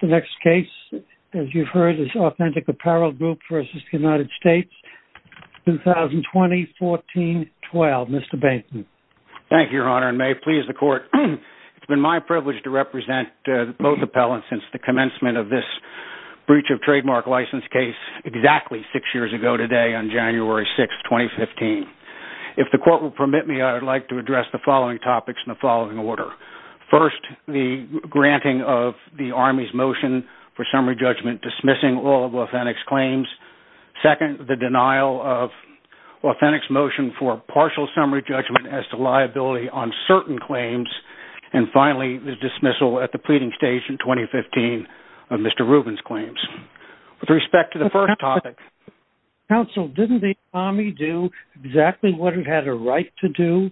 The next case, as you've heard, is Authentic Apparel Group v. United States, 2020-14-12. Mr. Bateson. Thank you, Your Honor, and may it please the Court, it's been my privilege to represent both appellants since the commencement of this breach of trademark license case exactly six years ago today on January 6, 2015. If the Court will permit me, I would like to address the following topics in the following order. First, the granting of the Army's motion for summary judgment dismissing all of Authentic's claims. Second, the denial of Authentic's motion for partial summary judgment as to liability on certain claims. And finally, the dismissal at the pleading stage in 2015 of Mr. Rubin's claims. With respect to the first topic... Didn't the Army do exactly what it had a right to do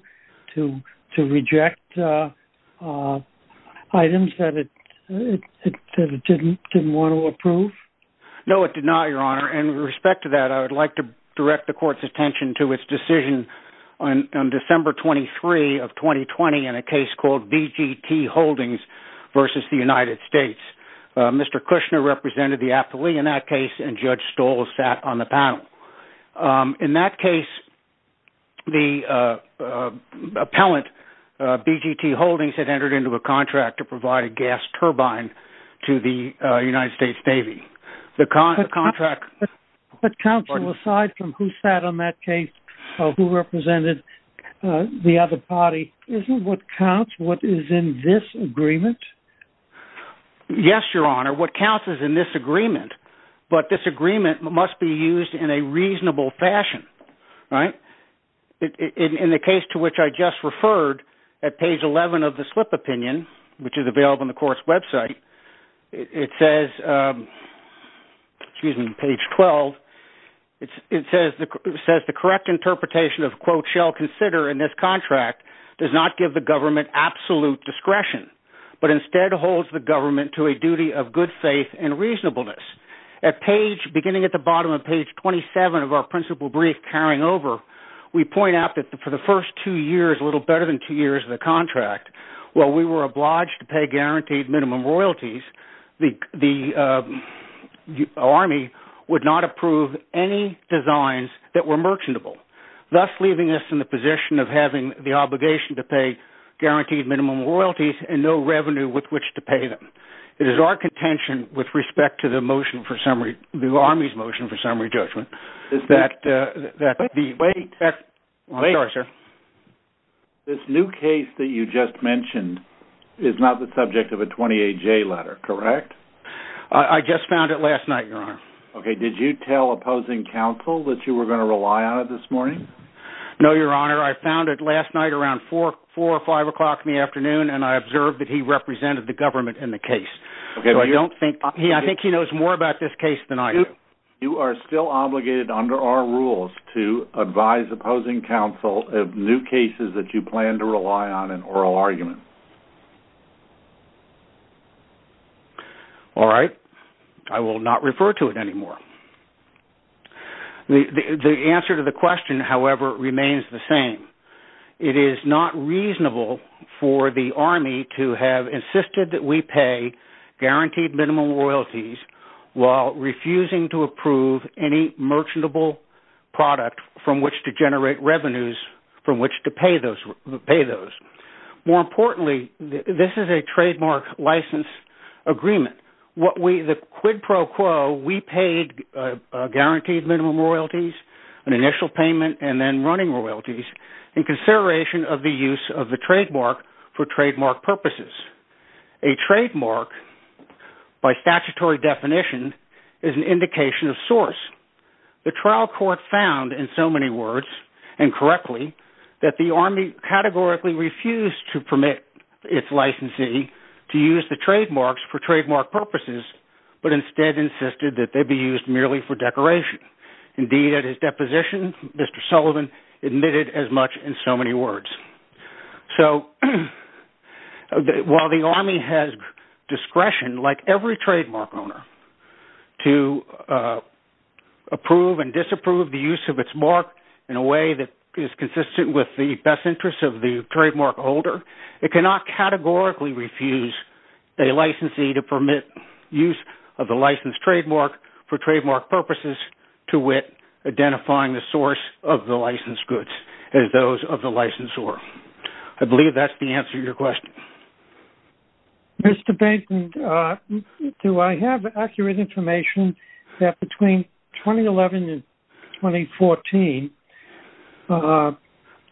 to reject items that it didn't want to approve? No, it did not, Your Honor. And with respect to that, I would like to direct the Court's attention to its decision on December 23 of 2020 in a case called BGT Holdings v. the United States. Mr. Kushner represented the affilee in that case, and Judge Stoll sat on the panel. In that case, the appellant, BGT Holdings, had entered into a contract to provide a gas turbine to the United States Navy. The contract... But counsel, aside from who sat on that case, who represented the other party, isn't what counts what is in this agreement? Yes, Your Honor. What counts is in this agreement. But this agreement must be used in a reasonable fashion. Right? In the case to which I just referred at page 11 of the slip opinion, which is available on the Court's website, it says... Excuse me, page 12. It says the correct interpretation of, quote, shall consider in this contract does not give the government absolute discretion. But instead holds the government to a duty of good faith and reasonableness. At page... Beginning at the bottom of page 27 of our principal brief carrying over, we point out that for the first two years, a little better than two years of the contract, while we were obliged to pay guaranteed minimum royalties, the Army would not approve any designs that were merchantable, thus leaving us in the position of having the obligation to pay guaranteed minimum royalties and no revenue with which to pay them. It is our contention with respect to the motion for summary, the Army's motion for summary judgment, that the... Wait. Wait. I'm sorry, sir. This new case that you just mentioned is not the subject of a 28-J letter, correct? I just found it last night, Your Honor. Okay. Did you tell opposing counsel that you were going to rely on it this morning? No, Your Honor. I found it last night around 4 or 5 o'clock in the afternoon, and I observed that he represented the government in the case. Do you... So I don't think... I think he knows more about this case than I do. You are still obligated under our rules to advise opposing counsel of new cases that you plan to rely on in oral argument. All right. I will not refer to it anymore. The answer to the question, however, remains the same. It is not reasonable for the Army to have insisted that we pay guaranteed minimum royalties while refusing to approve any merchantable product from which to generate revenues from which to pay those. More importantly, this is a trademark license agreement. The quid pro quo, we paid guaranteed minimum royalties, an initial payment, and then running royalties in consideration of the use of the trademark for trademark purposes. A trademark, by statutory definition, is an indication of source. The trial court found, in so many words and correctly, that the Army categorically refused to permit its licensee to use the trademarks for trademark purposes, but instead insisted that they be used merely for decoration. Indeed, at his deposition, Mr. Sullivan admitted as much in so many words. So while the Army has discretion, like every trademark owner, to approve and disapprove the use of its mark in a way that is consistent with the best interests of the trademark holder, it cannot categorically refuse a licensee to permit use of the licensed trademark for trademark purposes to wit, identifying the source of the licensed goods as those of the licensor. I believe that's the answer to your question. Mr. Benson, do I have accurate information that between 2011 and 2014,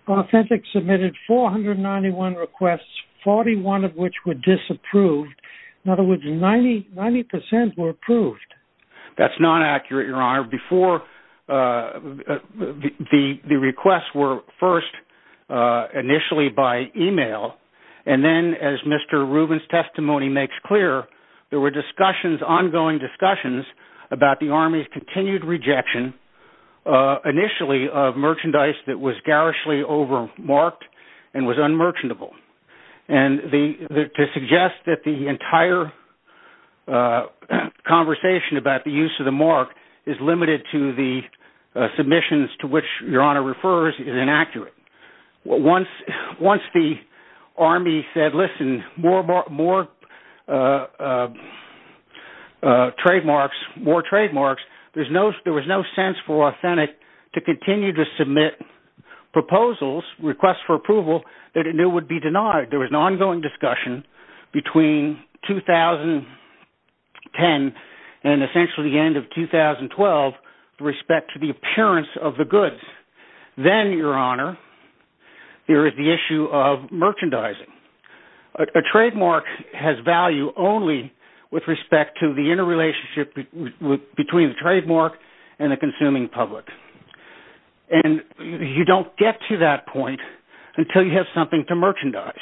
Authentic submitted 491 requests, 41 of which were disapproved? In other words, 90% were approved. The requests were first initially by email, and then, as Mr. Rubin's testimony makes clear, there were ongoing discussions about the Army's continued rejection, initially, of merchandise that was garishly over-marked and was unmerchantable. To suggest that the entire conversation about the use of the mark is limited to the submissions to which Your Honor refers is inaccurate. Once the Army said, listen, more trademarks, there was no sense for Authentic to continue to submit proposals, requests for approval, that it knew would be denied. There was an ongoing discussion between 2010 and essentially the end of 2012 with respect to the appearance of the goods. Then, Your Honor, there is the issue of merchandising. A trademark has value only with respect to the interrelationship between the trademark and the consuming public. You don't get to that point until you have something to merchandise.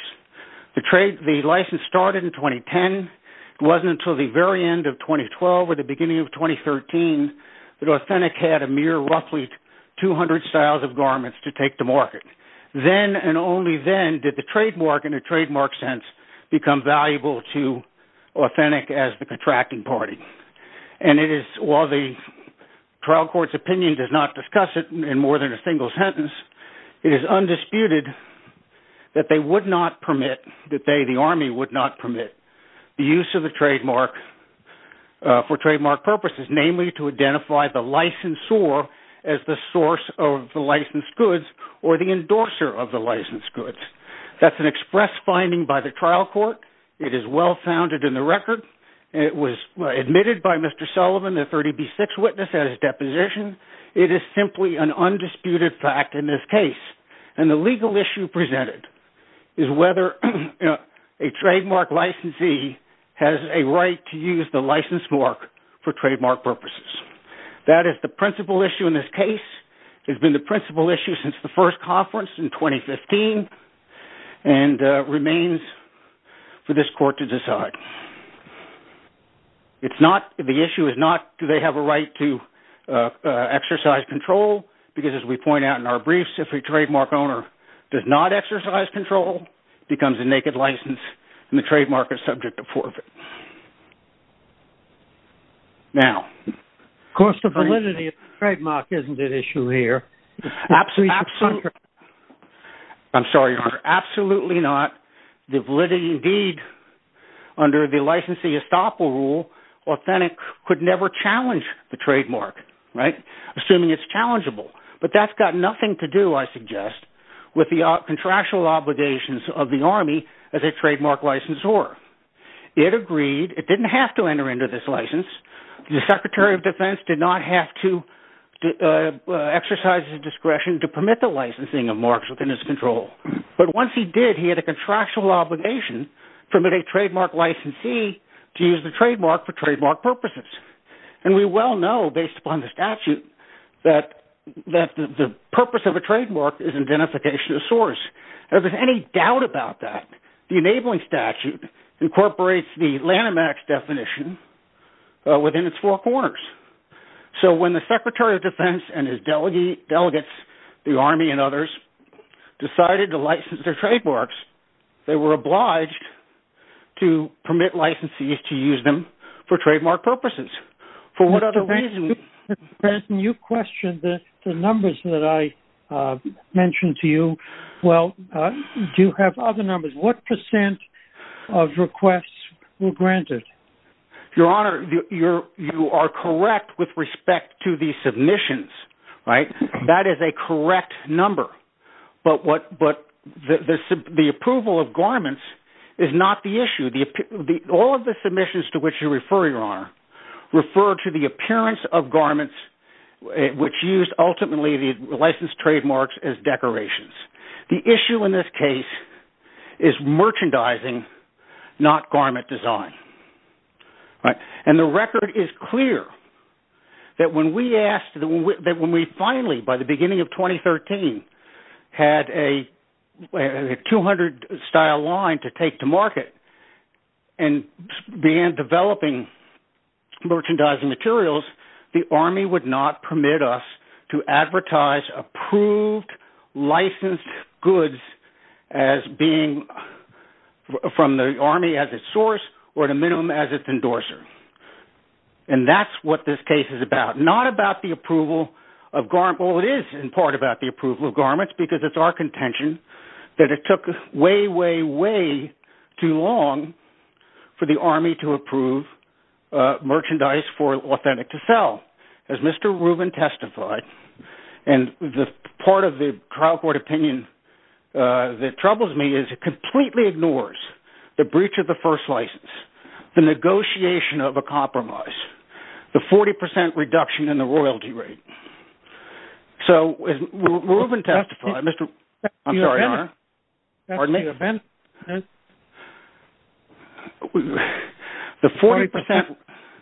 The license started in 2010. It wasn't until the very end of 2012 or the beginning of 2013 that Authentic had a mere roughly 200 styles of garments to take to market. Then and only then did the trademark, in a trademark sense, become valuable to Authentic as the contracting party. While the trial court's opinion does not discuss it in more than a single sentence, it is undisputed that they would not permit, that they, the Army, would not permit the use of a trademark for trademark purposes, namely to identify the licensor as the source of the licensed goods or the endorser of the licensed goods. That's an express finding by the trial court. It is well-founded in the record. It was admitted by Mr. Sullivan, the 30B6 witness, at his deposition. It is simply an undisputed fact in this case. And the legal issue presented is whether a trademark licensee has a right to use the license mark for trademark purposes. That is the principal issue in this case. It has been the principal issue since the first conference in 2015 and remains for this It's not, the issue is not do they have a right to exercise control, because as we point out in our briefs, if a trademark owner does not exercise control, becomes a naked license, and the trademark is subject to forfeit. Now... The validity of the trademark isn't an issue here. Absolutely not. I'm sorry, Your Honor. Absolutely not. The validity, indeed, under the licensing estoppel rule, Authentic could never challenge the trademark, right? Assuming it's challengeable. But that's got nothing to do, I suggest, with the contractual obligations of the Army as a trademark licensor. It agreed, it didn't have to enter into this license. The Secretary of Defense did not have to exercise his discretion to permit the licensing of marks within his control. But once he did, he had a contractual obligation from a trademark licensee to use the trademark for trademark purposes. And we well know, based upon the statute, that the purpose of a trademark is identification of source. If there's any doubt about that, the enabling statute incorporates the Lanham Act's definition within its four corners. So when the Secretary of Defense and his delegates, the Army and others, decided to license their trademarks, they were obliged to permit licensees to use them for trademark purposes. For what other reason... Mr. Benson, you questioned the numbers that I mentioned to you. Well, do you have other numbers? What percent of requests were granted? Your Honor, you are correct with respect to the submissions. That is a correct number. But the approval of garments is not the issue. All of the submissions to which you refer, Your Honor, refer to the appearance of garments which used ultimately the licensed trademarks as decorations. The issue in this case is merchandising, not garment design. And the record is clear that when we finally, by the beginning of 2013, had a 200-style line to take to market and began developing merchandising materials, the Army would not permit us to advertise approved, licensed goods as being from the Army as its source or, at a minimum, as its endorser. And that's what this case is about, not about the approval of garments. Well, it is in part about the approval of garments because it's our contention that it took way, way, way too long for the Army to approve merchandise for authentic to sell. As Mr. Rubin testified, and the part of the trial court opinion that troubles me is it completely ignores the breach of the first license, the negotiation of a compromise, the 40% reduction in the royalty rate. So, as Rubin testified, Mr. Rubin, I'm sorry, Your Honor. That's the event. Pardon me? That's the event. The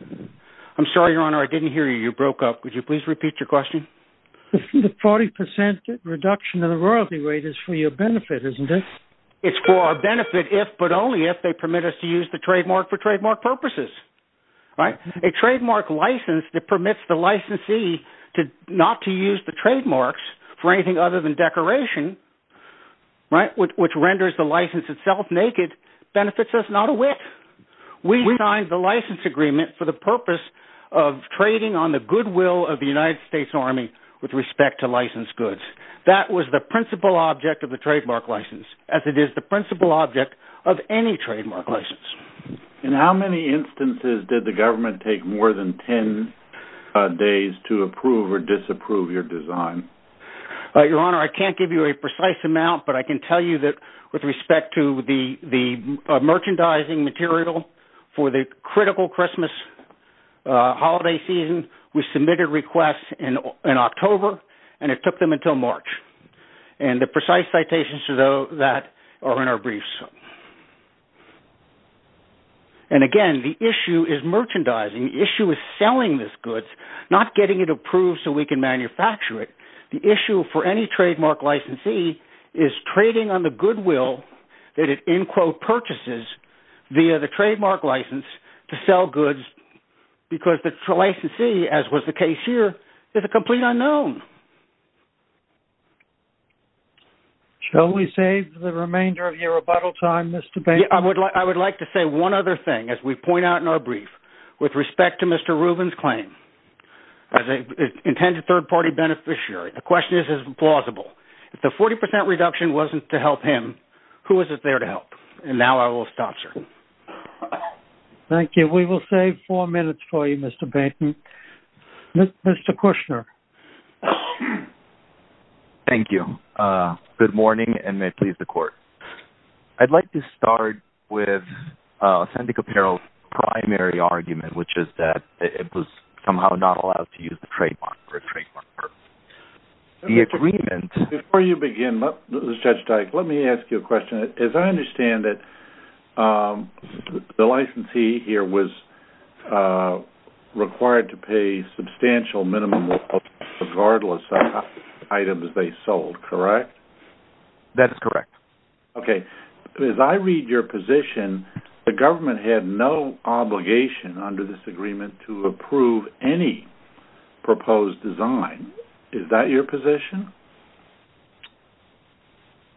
40% – I'm sorry, Your Honor. I didn't hear you. You broke up. Would you please repeat your question? The 40% reduction in the royalty rate is for your benefit, isn't it? It's for our benefit if, but only if, they permit us to use the trademark for trademark purposes. A trademark license that permits the licensee not to use the trademarks for anything other than decoration, which renders the license itself naked, benefits us not a whit. We signed the license agreement for the purpose of trading on the goodwill of the United States Army with respect to licensed goods. That was the principal object of the trademark license, as it is the principal object of any trademark license. In how many instances did the government take more than 10 days to approve or disapprove your design? Your Honor, I can't give you a precise amount, but I can tell you that with respect to the merchandising material for the critical Christmas holiday season, we submitted requests in October, and it took them until March. And the precise citations to that are in our briefs. And again, the issue is merchandising. The issue is selling this goods, not getting it approved so we can manufacture it. The issue for any trademark licensee is trading on the goodwill that it, in quote, purchases via the trademark license to sell goods, because the licensee, as was the case here, is a complete unknown. Shall we save the remainder of your rebuttal time, Mr. Bates? I would like to say one other thing. As we point out in our brief, with respect to Mr. Rubin's claim as an intended third-party beneficiary, the question is, is it plausible? If the 40 percent reduction wasn't to help him, who was it there to help? And now I will stop, sir. Thank you. We will save four minutes for you, Mr. Bates. Mr. Kushner. Thank you. Good morning, and may it please the Court. I'd like to start with Sandic Apparel's primary argument, which is that it was somehow not allowed to use the trademark for a trademark purpose. The agreement- Before you begin, Judge Dyke, let me ask you a question. As I understand it, the licensee here was required to pay substantial minimum of regardless of how many items they sold, correct? That is correct. Okay. As I read your position, the government had no obligation under this agreement to approve any proposed design. Is that your position?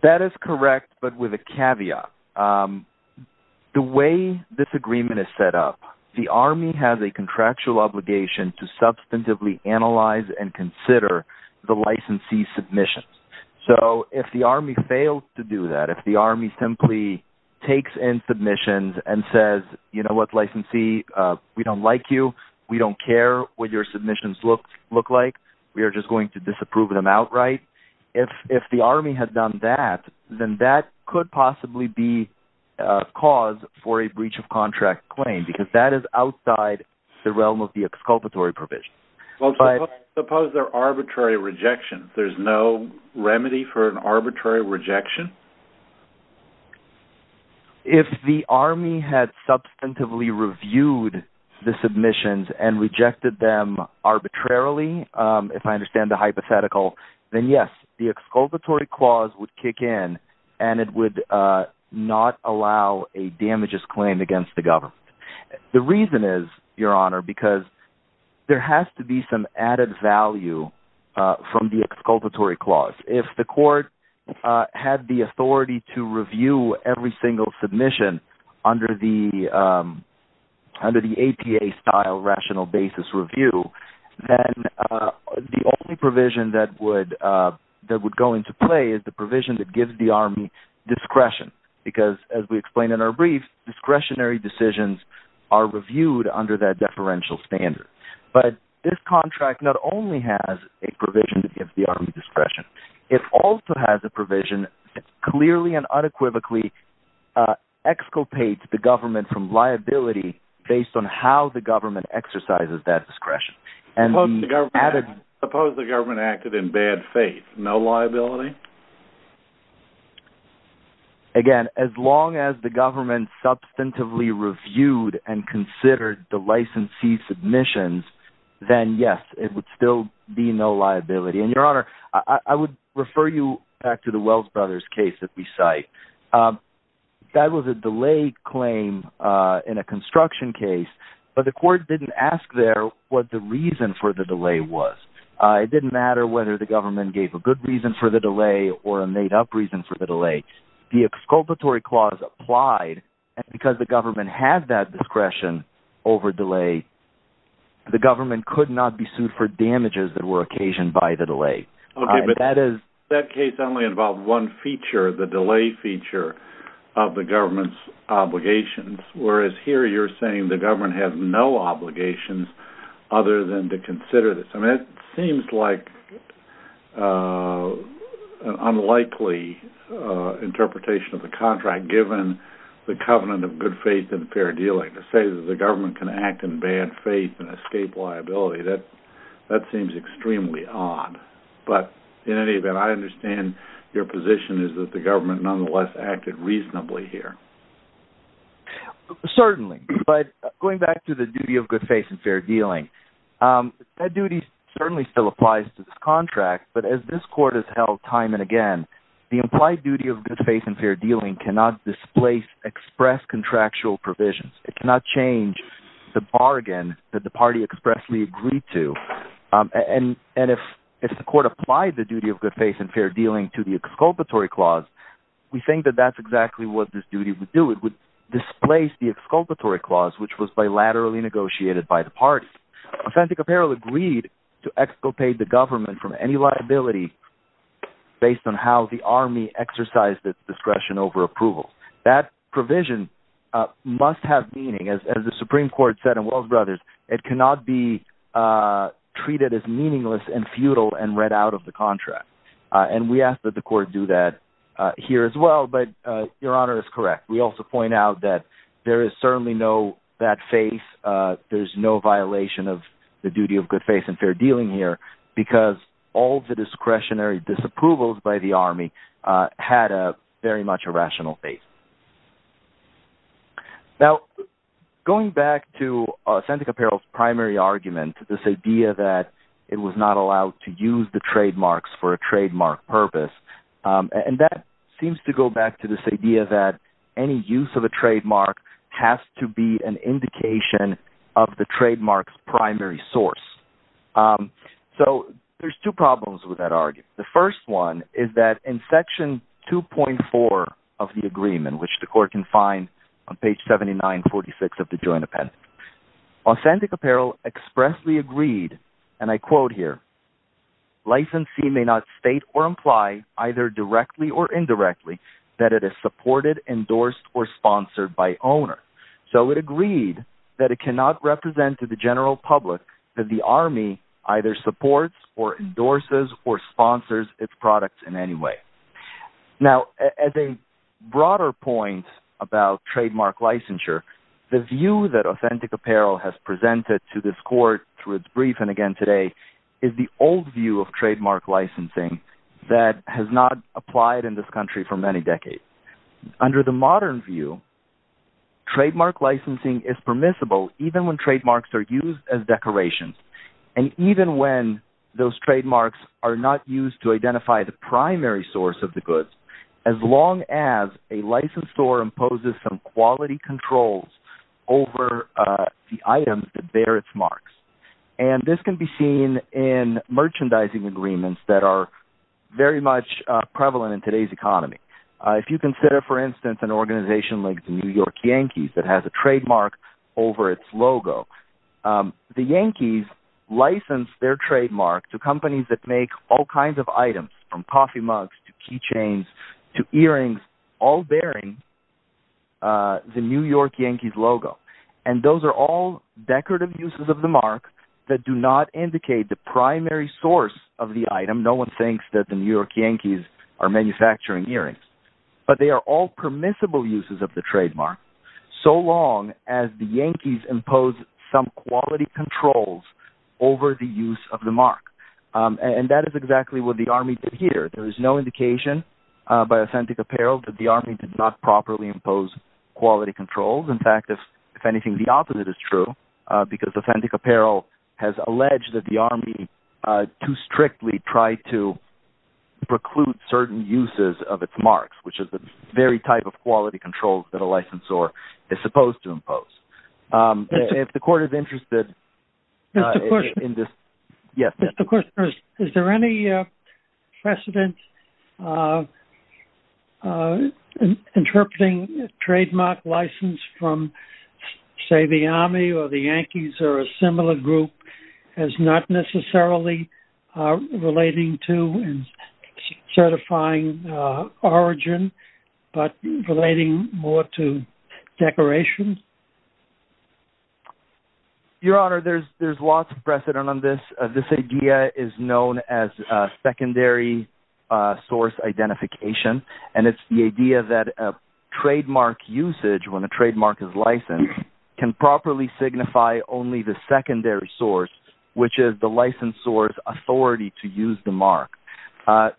That is correct, but with a caveat. The way this agreement is set up, the Army has a contractual obligation to substantively analyze and consider the licensee's submissions. So if the Army failed to do that, if the Army simply takes in submissions and says, you know what, licensee, we don't like you, we don't care what your submissions look like, we are just going to disapprove them outright, if the Army had done that, then that could possibly be cause for a breach of contract claim, because that is outside the realm of the exculpatory provision. Suppose they are arbitrary rejections. There is no remedy for an arbitrary rejection? If the Army had substantively reviewed the submissions and rejected them arbitrarily, if I understand the hypothetical, then yes, the exculpatory clause would kick in and it would not allow a damages claim against the government. The reason is, Your Honor, because there has to be some added value from the exculpatory clause. If the court had the authority to review every single submission under the APA-style rational basis review, then the only provision that would go into play is the provision that gives the Army discretion, because as we explained in our brief, discretionary decisions are reviewed under that deferential standard. But this contract not only has a provision that gives the Army discretion, it also has a provision that clearly and unequivocally exculpates the government from liability based on how the government exercises that discretion. Suppose the government acted in bad faith, no liability? Again, as long as the government substantively reviewed and considered the licensee submissions, then yes, it would still be no liability. And Your Honor, I would refer you back to the Wells Brothers case that we cite. That was a delay claim in a construction case, but the court didn't ask there what the reason for the delay was. It didn't matter whether the government gave a good reason for the delay or a made-up reason for the delay. The exculpatory clause applied, and because the government had that discretion over delay, the government could not be sued for damages that were occasioned by the delay. That case only involved one feature, the delay feature of the government's obligations, whereas here you're saying the government has no obligations other than to consider this. I mean, it seems like an unlikely interpretation of the contract, given the covenant of good faith and fair dealing to say that the government can act in bad faith and escape liability. That seems extremely odd. But in any event, I understand your position is that the government nonetheless acted reasonably here. Certainly, but going back to the duty of good faith and fair dealing, that duty certainly still applies to this contract, but as this court has held time and again, the implied duty of good faith and fair dealing cannot displace express contractual provisions. It cannot change the bargain that the party expressly agreed to. And if the court applied the duty of good faith and fair dealing to the exculpatory clause, we think that that's exactly what this duty would do. It would displace the exculpatory clause, which was bilaterally negotiated by the party. Authentic Apparel agreed to exculpate the government from any liability based on how the army exercised its discretion over approval. That provision must have meaning. As the Supreme Court said in Wells Brothers, it cannot be treated as meaningless and futile and read out of the contract. And we ask that the court do that here as well. But Your Honor is correct. We also point out that there is certainly no bad faith. There's no violation of the duty of good faith and fair dealing here because all the discretionary disapprovals by the army had a very much irrational faith. Now, going back to Authentic Apparel's primary argument, this idea that it was not allowed to use the trademarks for a trademark purpose, and that seems to go back to this idea that any use of a trademark has to be an indication of the trademark's primary source. So there's two problems with that argument. The first one is that in section 2.4 of the agreement, which the court can find on page 7946 of the joint appendix, Authentic Apparel expressly agreed, and I quote here, Licensee may not state or imply, either directly or indirectly, that it is supported, endorsed, or sponsored by owner. So it agreed that it cannot represent to the general public that the army either supports or endorses or sponsors its products in any way. Now, as a broader point about trademark licensure, the view that Authentic Apparel has presented to this court through its brief, and again today, is the old view of trademark licensing that has not applied in this country for many decades. Under the modern view, trademark licensing is permissible even when trademarks are used as decorations, and even when those trademarks are not used to identify the primary source of the goods. As long as a licensed store imposes some quality controls over the items that bear its marks. And this can be seen in merchandising agreements that are very much prevalent in today's economy. If you consider, for instance, an organization like the New York Yankees that has a trademark over its logo. The Yankees license their trademark to companies that make all kinds of items, from coffee mugs to keychains to earrings, all bearing the New York Yankees logo. And those are all decorative uses of the mark that do not indicate the primary source of the item. No one thinks that the New York Yankees are manufacturing earrings. But they are all permissible uses of the trademark, so long as the Yankees impose some quality controls over the use of the mark. And that is exactly what the Army did here. There is no indication by authentic apparel that the Army did not properly impose quality controls. In fact, if anything, the opposite is true, because authentic apparel has alleged that the Army too strictly tried to preclude certain uses of its marks, which is the very type of quality controls that a licensed store is supposed to impose. If the court is interested in this... Mr. Kushner, is there any precedent interpreting a trademark license from, say, the Army or the Yankees or a similar group as not necessarily relating to and certifying origin, but relating more to decorations? Your Honor, there's lots of precedent on this. This idea is known as secondary source identification, and it's the idea that a trademark usage, when a trademark is licensed, can properly signify only the secondary source, which is the licensed store's authority to use the mark.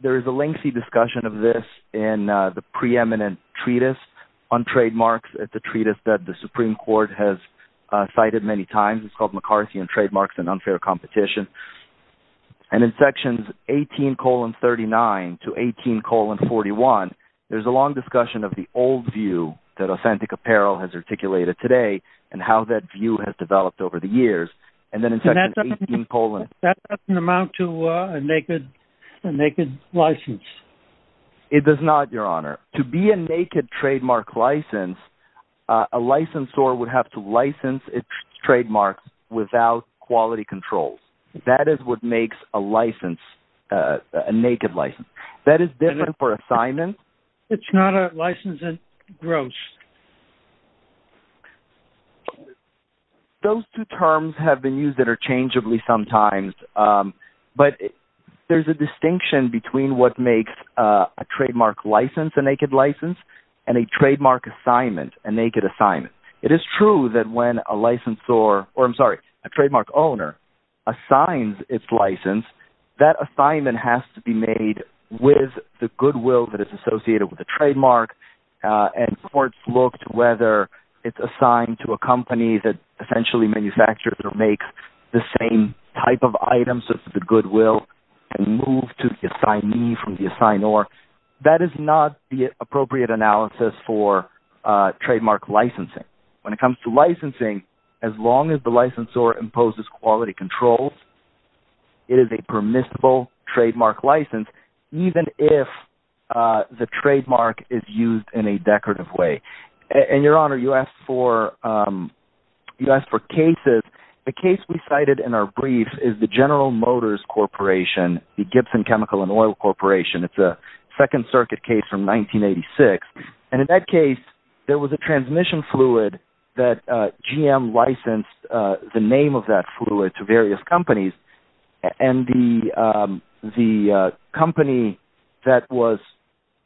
There is a lengthy discussion of this in the preeminent treatise on trademarks. It's a treatise that the Supreme Court has cited many times. It's called McCarthy and Trademarks and Unfair Competition. And in sections 18,39 to 18,41, there's a long discussion of the old view that authentic apparel has articulated today and how that view has developed over the years. And that doesn't amount to a naked license. It does not, Your Honor. To be a naked trademark license, a licensed store would have to license its trademarks without quality controls. That is what makes a license a naked license. That is different for assignments. It's not a license in gross. Those two terms have been used interchangeably sometimes, but there's a distinction between what makes a trademark license a naked license and a trademark assignment a naked assignment. It is true that when a licensed store, or I'm sorry, a trademark owner assigns its license, that assignment has to be made with the goodwill that is associated with the trademark, and courts look to whether it's assigned to a company that essentially manufactures or makes the same type of items of the goodwill and move to the assignee from the assignor. That is not the appropriate analysis for trademark licensing. When it comes to licensing, as long as the licensor imposes quality controls, it is a permissible trademark license, even if the trademark is used in a decorative way. Your Honor, you asked for cases. The case we cited in our brief is the General Motors Corporation, the Gibson Chemical and Oil Corporation. It's a Second Circuit case from 1986. In that case, there was a transmission fluid that GM licensed the name of that fluid to various companies, and the company that was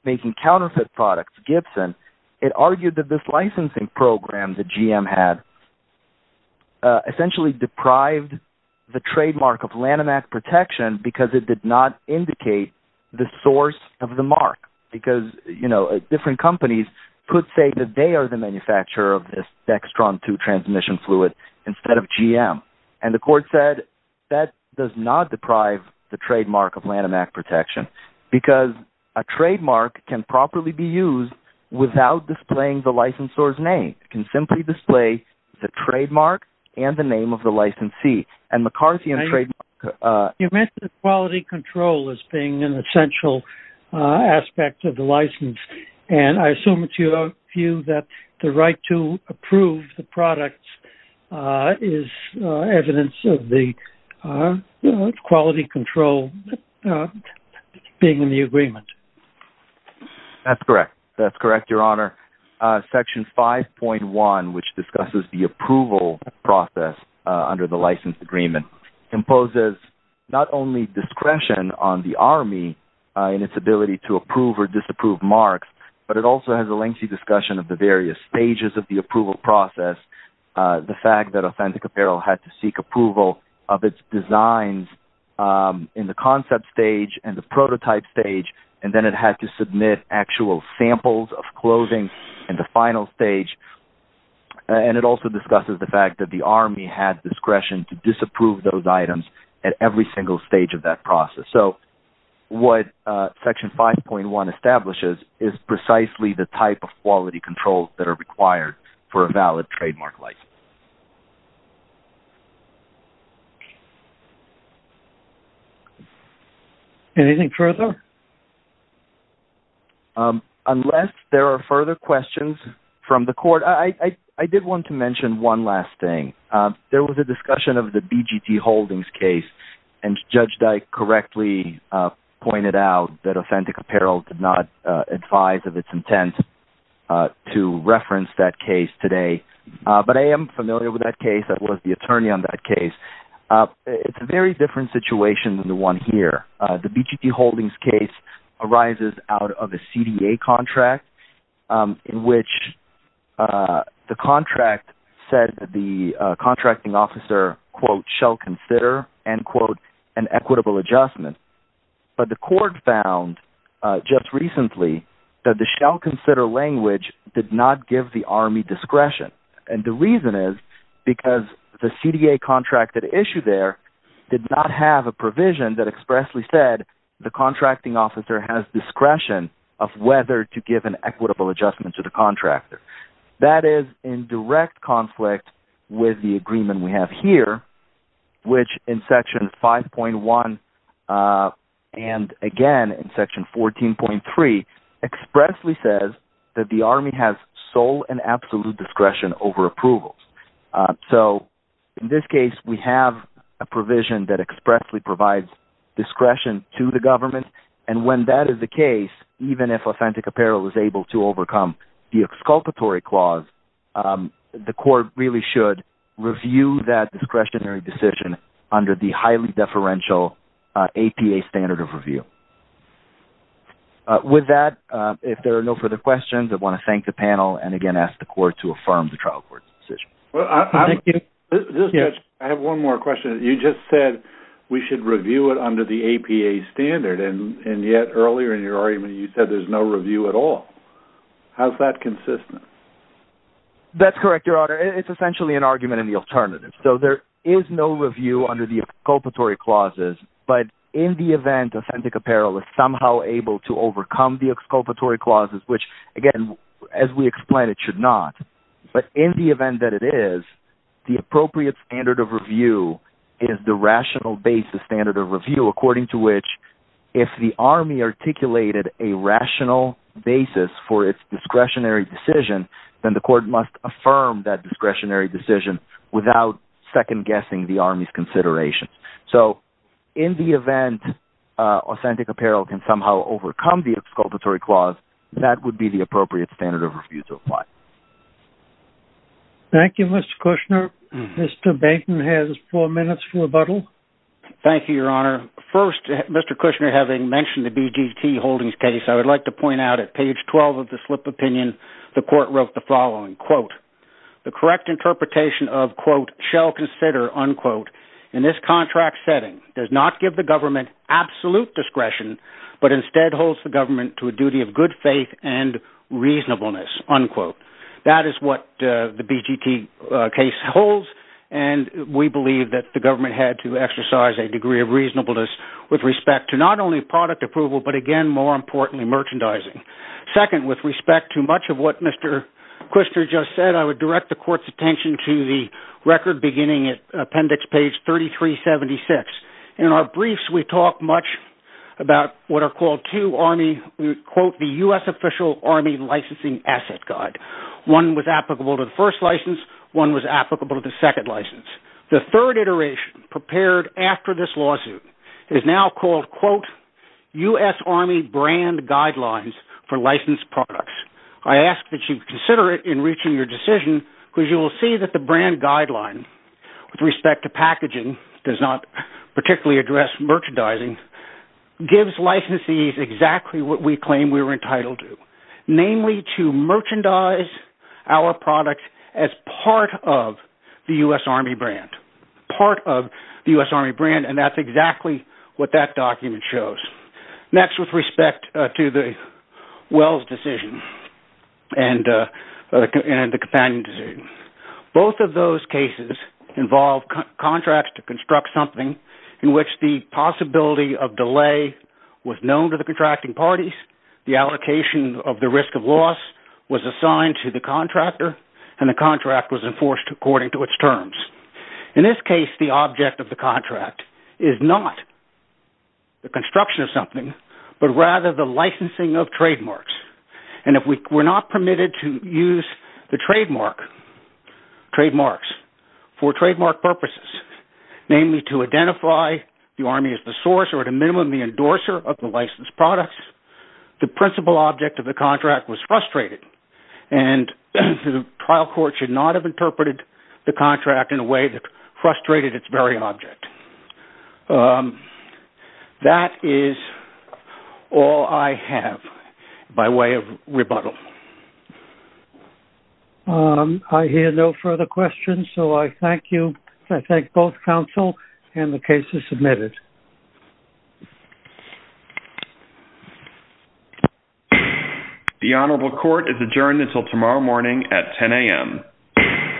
making counterfeit products, Gibson, it argued that this licensing program that GM had essentially deprived the trademark of Lanhamac protection because it did not indicate the source of the mark. Because, you know, different companies could say that they are the manufacturer of this Dextron II transmission fluid instead of GM. And the court said that does not deprive the trademark of Lanhamac protection because a trademark can properly be used without displaying the licensor's name. It can simply display the trademark and the name of the licensee. And McCarthy and trademark... You mentioned the quality control as being an essential aspect of the license, and I assume it's your view that the right to approve the products is evidence of the quality control being in the agreement. That's correct. That's correct, Your Honor. Section 5.1, which discusses the approval process under the license agreement, imposes not only discretion on the Army in its ability to approve or disapprove marks, but it also has a lengthy discussion of the various stages of the approval process, the fact that Authentic Apparel had to seek approval of its designs in the concept stage and the prototype stage, and then it had to submit actual samples of clothing in the final stage. And it also discusses the fact that the Army had discretion to disapprove those items at every single stage of that process. So what Section 5.1 establishes is precisely the type of quality controls that are required for a valid trademark license. Anything further? Your Honor, unless there are further questions from the Court, I did want to mention one last thing. There was a discussion of the BGT Holdings case, and Judge Dyke correctly pointed out that Authentic Apparel did not advise of its intent to reference that case today, but I am familiar with that case. I was the attorney on that case. It's a very different situation than the one here. The BGT Holdings case arises out of a CDA contract in which the contract said that the contracting officer, quote, shall consider, end quote, an equitable adjustment. But the Court found just recently that the shall consider language did not give the Army discretion. And the reason is because the CDA contract that issued there did not have a provision that expressly said the contracting officer has discretion of whether to give an equitable adjustment to the contractor. That is in direct conflict with the agreement we have here, which in Section 5.1 and again in Section 14.3 expressly says that the Army has sole and absolute discretion over approvals. So in this case, we have a provision that expressly provides discretion to the government, and when that is the case, even if Authentic Apparel is able to overcome the exculpatory clause, the Court really should review that discretionary decision under the highly deferential APA standard of review. With that, if there are no further questions, I want to thank the panel and again ask the Court to affirm the trial court's decision. I have one more question. You just said we should review it under the APA standard, and yet earlier in your argument you said there's no review at all. How is that consistent? That's correct, Your Honor. It's essentially an argument in the alternative. So there is no review under the exculpatory clauses, but in the event Authentic Apparel is somehow able to overcome the exculpatory clauses, which, again, as we explained, it should not, but in the event that it is, the appropriate standard of review is the rational basis standard of review, according to which if the Army articulated a rational basis for its discretionary decision, then the Court must affirm that discretionary decision without second-guessing the Army's considerations. So in the event Authentic Apparel can somehow overcome the exculpatory clause, that would be the appropriate standard of review to apply. Thank you, Mr. Kushner. Mr. Bainton has four minutes for rebuttal. Thank you, Your Honor. First, Mr. Kushner, having mentioned the BGT holdings case, I would like to point out at page 12 of the slip opinion the Court wrote the following, quote, the correct interpretation of, quote, shall consider, unquote, in this contract setting does not give the government absolute discretion, but instead holds the government to a duty of good faith and reasonableness, unquote. That is what the BGT case holds, and we believe that the government had to exercise a degree of reasonableness with respect to not only product approval, but again, more importantly, merchandising. Second, with respect to much of what Mr. Kushner just said, I would direct the Court's attention to the record beginning at appendix page 3376. In our briefs, we talk much about what are called two Army, quote, the U.S. Official Army Licensing Asset Guide. One was applicable to the first license. One was applicable to the second license. The third iteration prepared after this lawsuit is now called, quote, U.S. Army Brand Guidelines for Licensed Products. I ask that you consider it in reaching your decision, because you will see that the brand guideline with respect to packaging does not particularly address merchandising, gives licensees exactly what we claim we're entitled to, namely to merchandise our product as part of the U.S. Army brand, part of the U.S. Army brand, and that's exactly what that document shows. Next, with respect to the Wells decision and the Companion decision, both of those cases involve contracts to construct something in which the possibility of delay was known to the contracting parties, the allocation of the risk of loss was assigned to the contractor, and the contract was enforced according to its terms. In this case, the object of the contract is not the construction of something, but rather the licensing of trademarks. And if we're not permitted to use the trademarks for trademark purposes, namely to identify the Army as the source or at a minimum the endorser of the licensed products, the principal object of the contract was frustrated, and the trial court should not have interpreted the contract in a way that frustrated its very object. That is all I have by way of rebuttal. I hear no further questions, so I thank you. I thank both counsel and the cases submitted. The Honorable Court is adjourned until tomorrow morning at 10 a.m.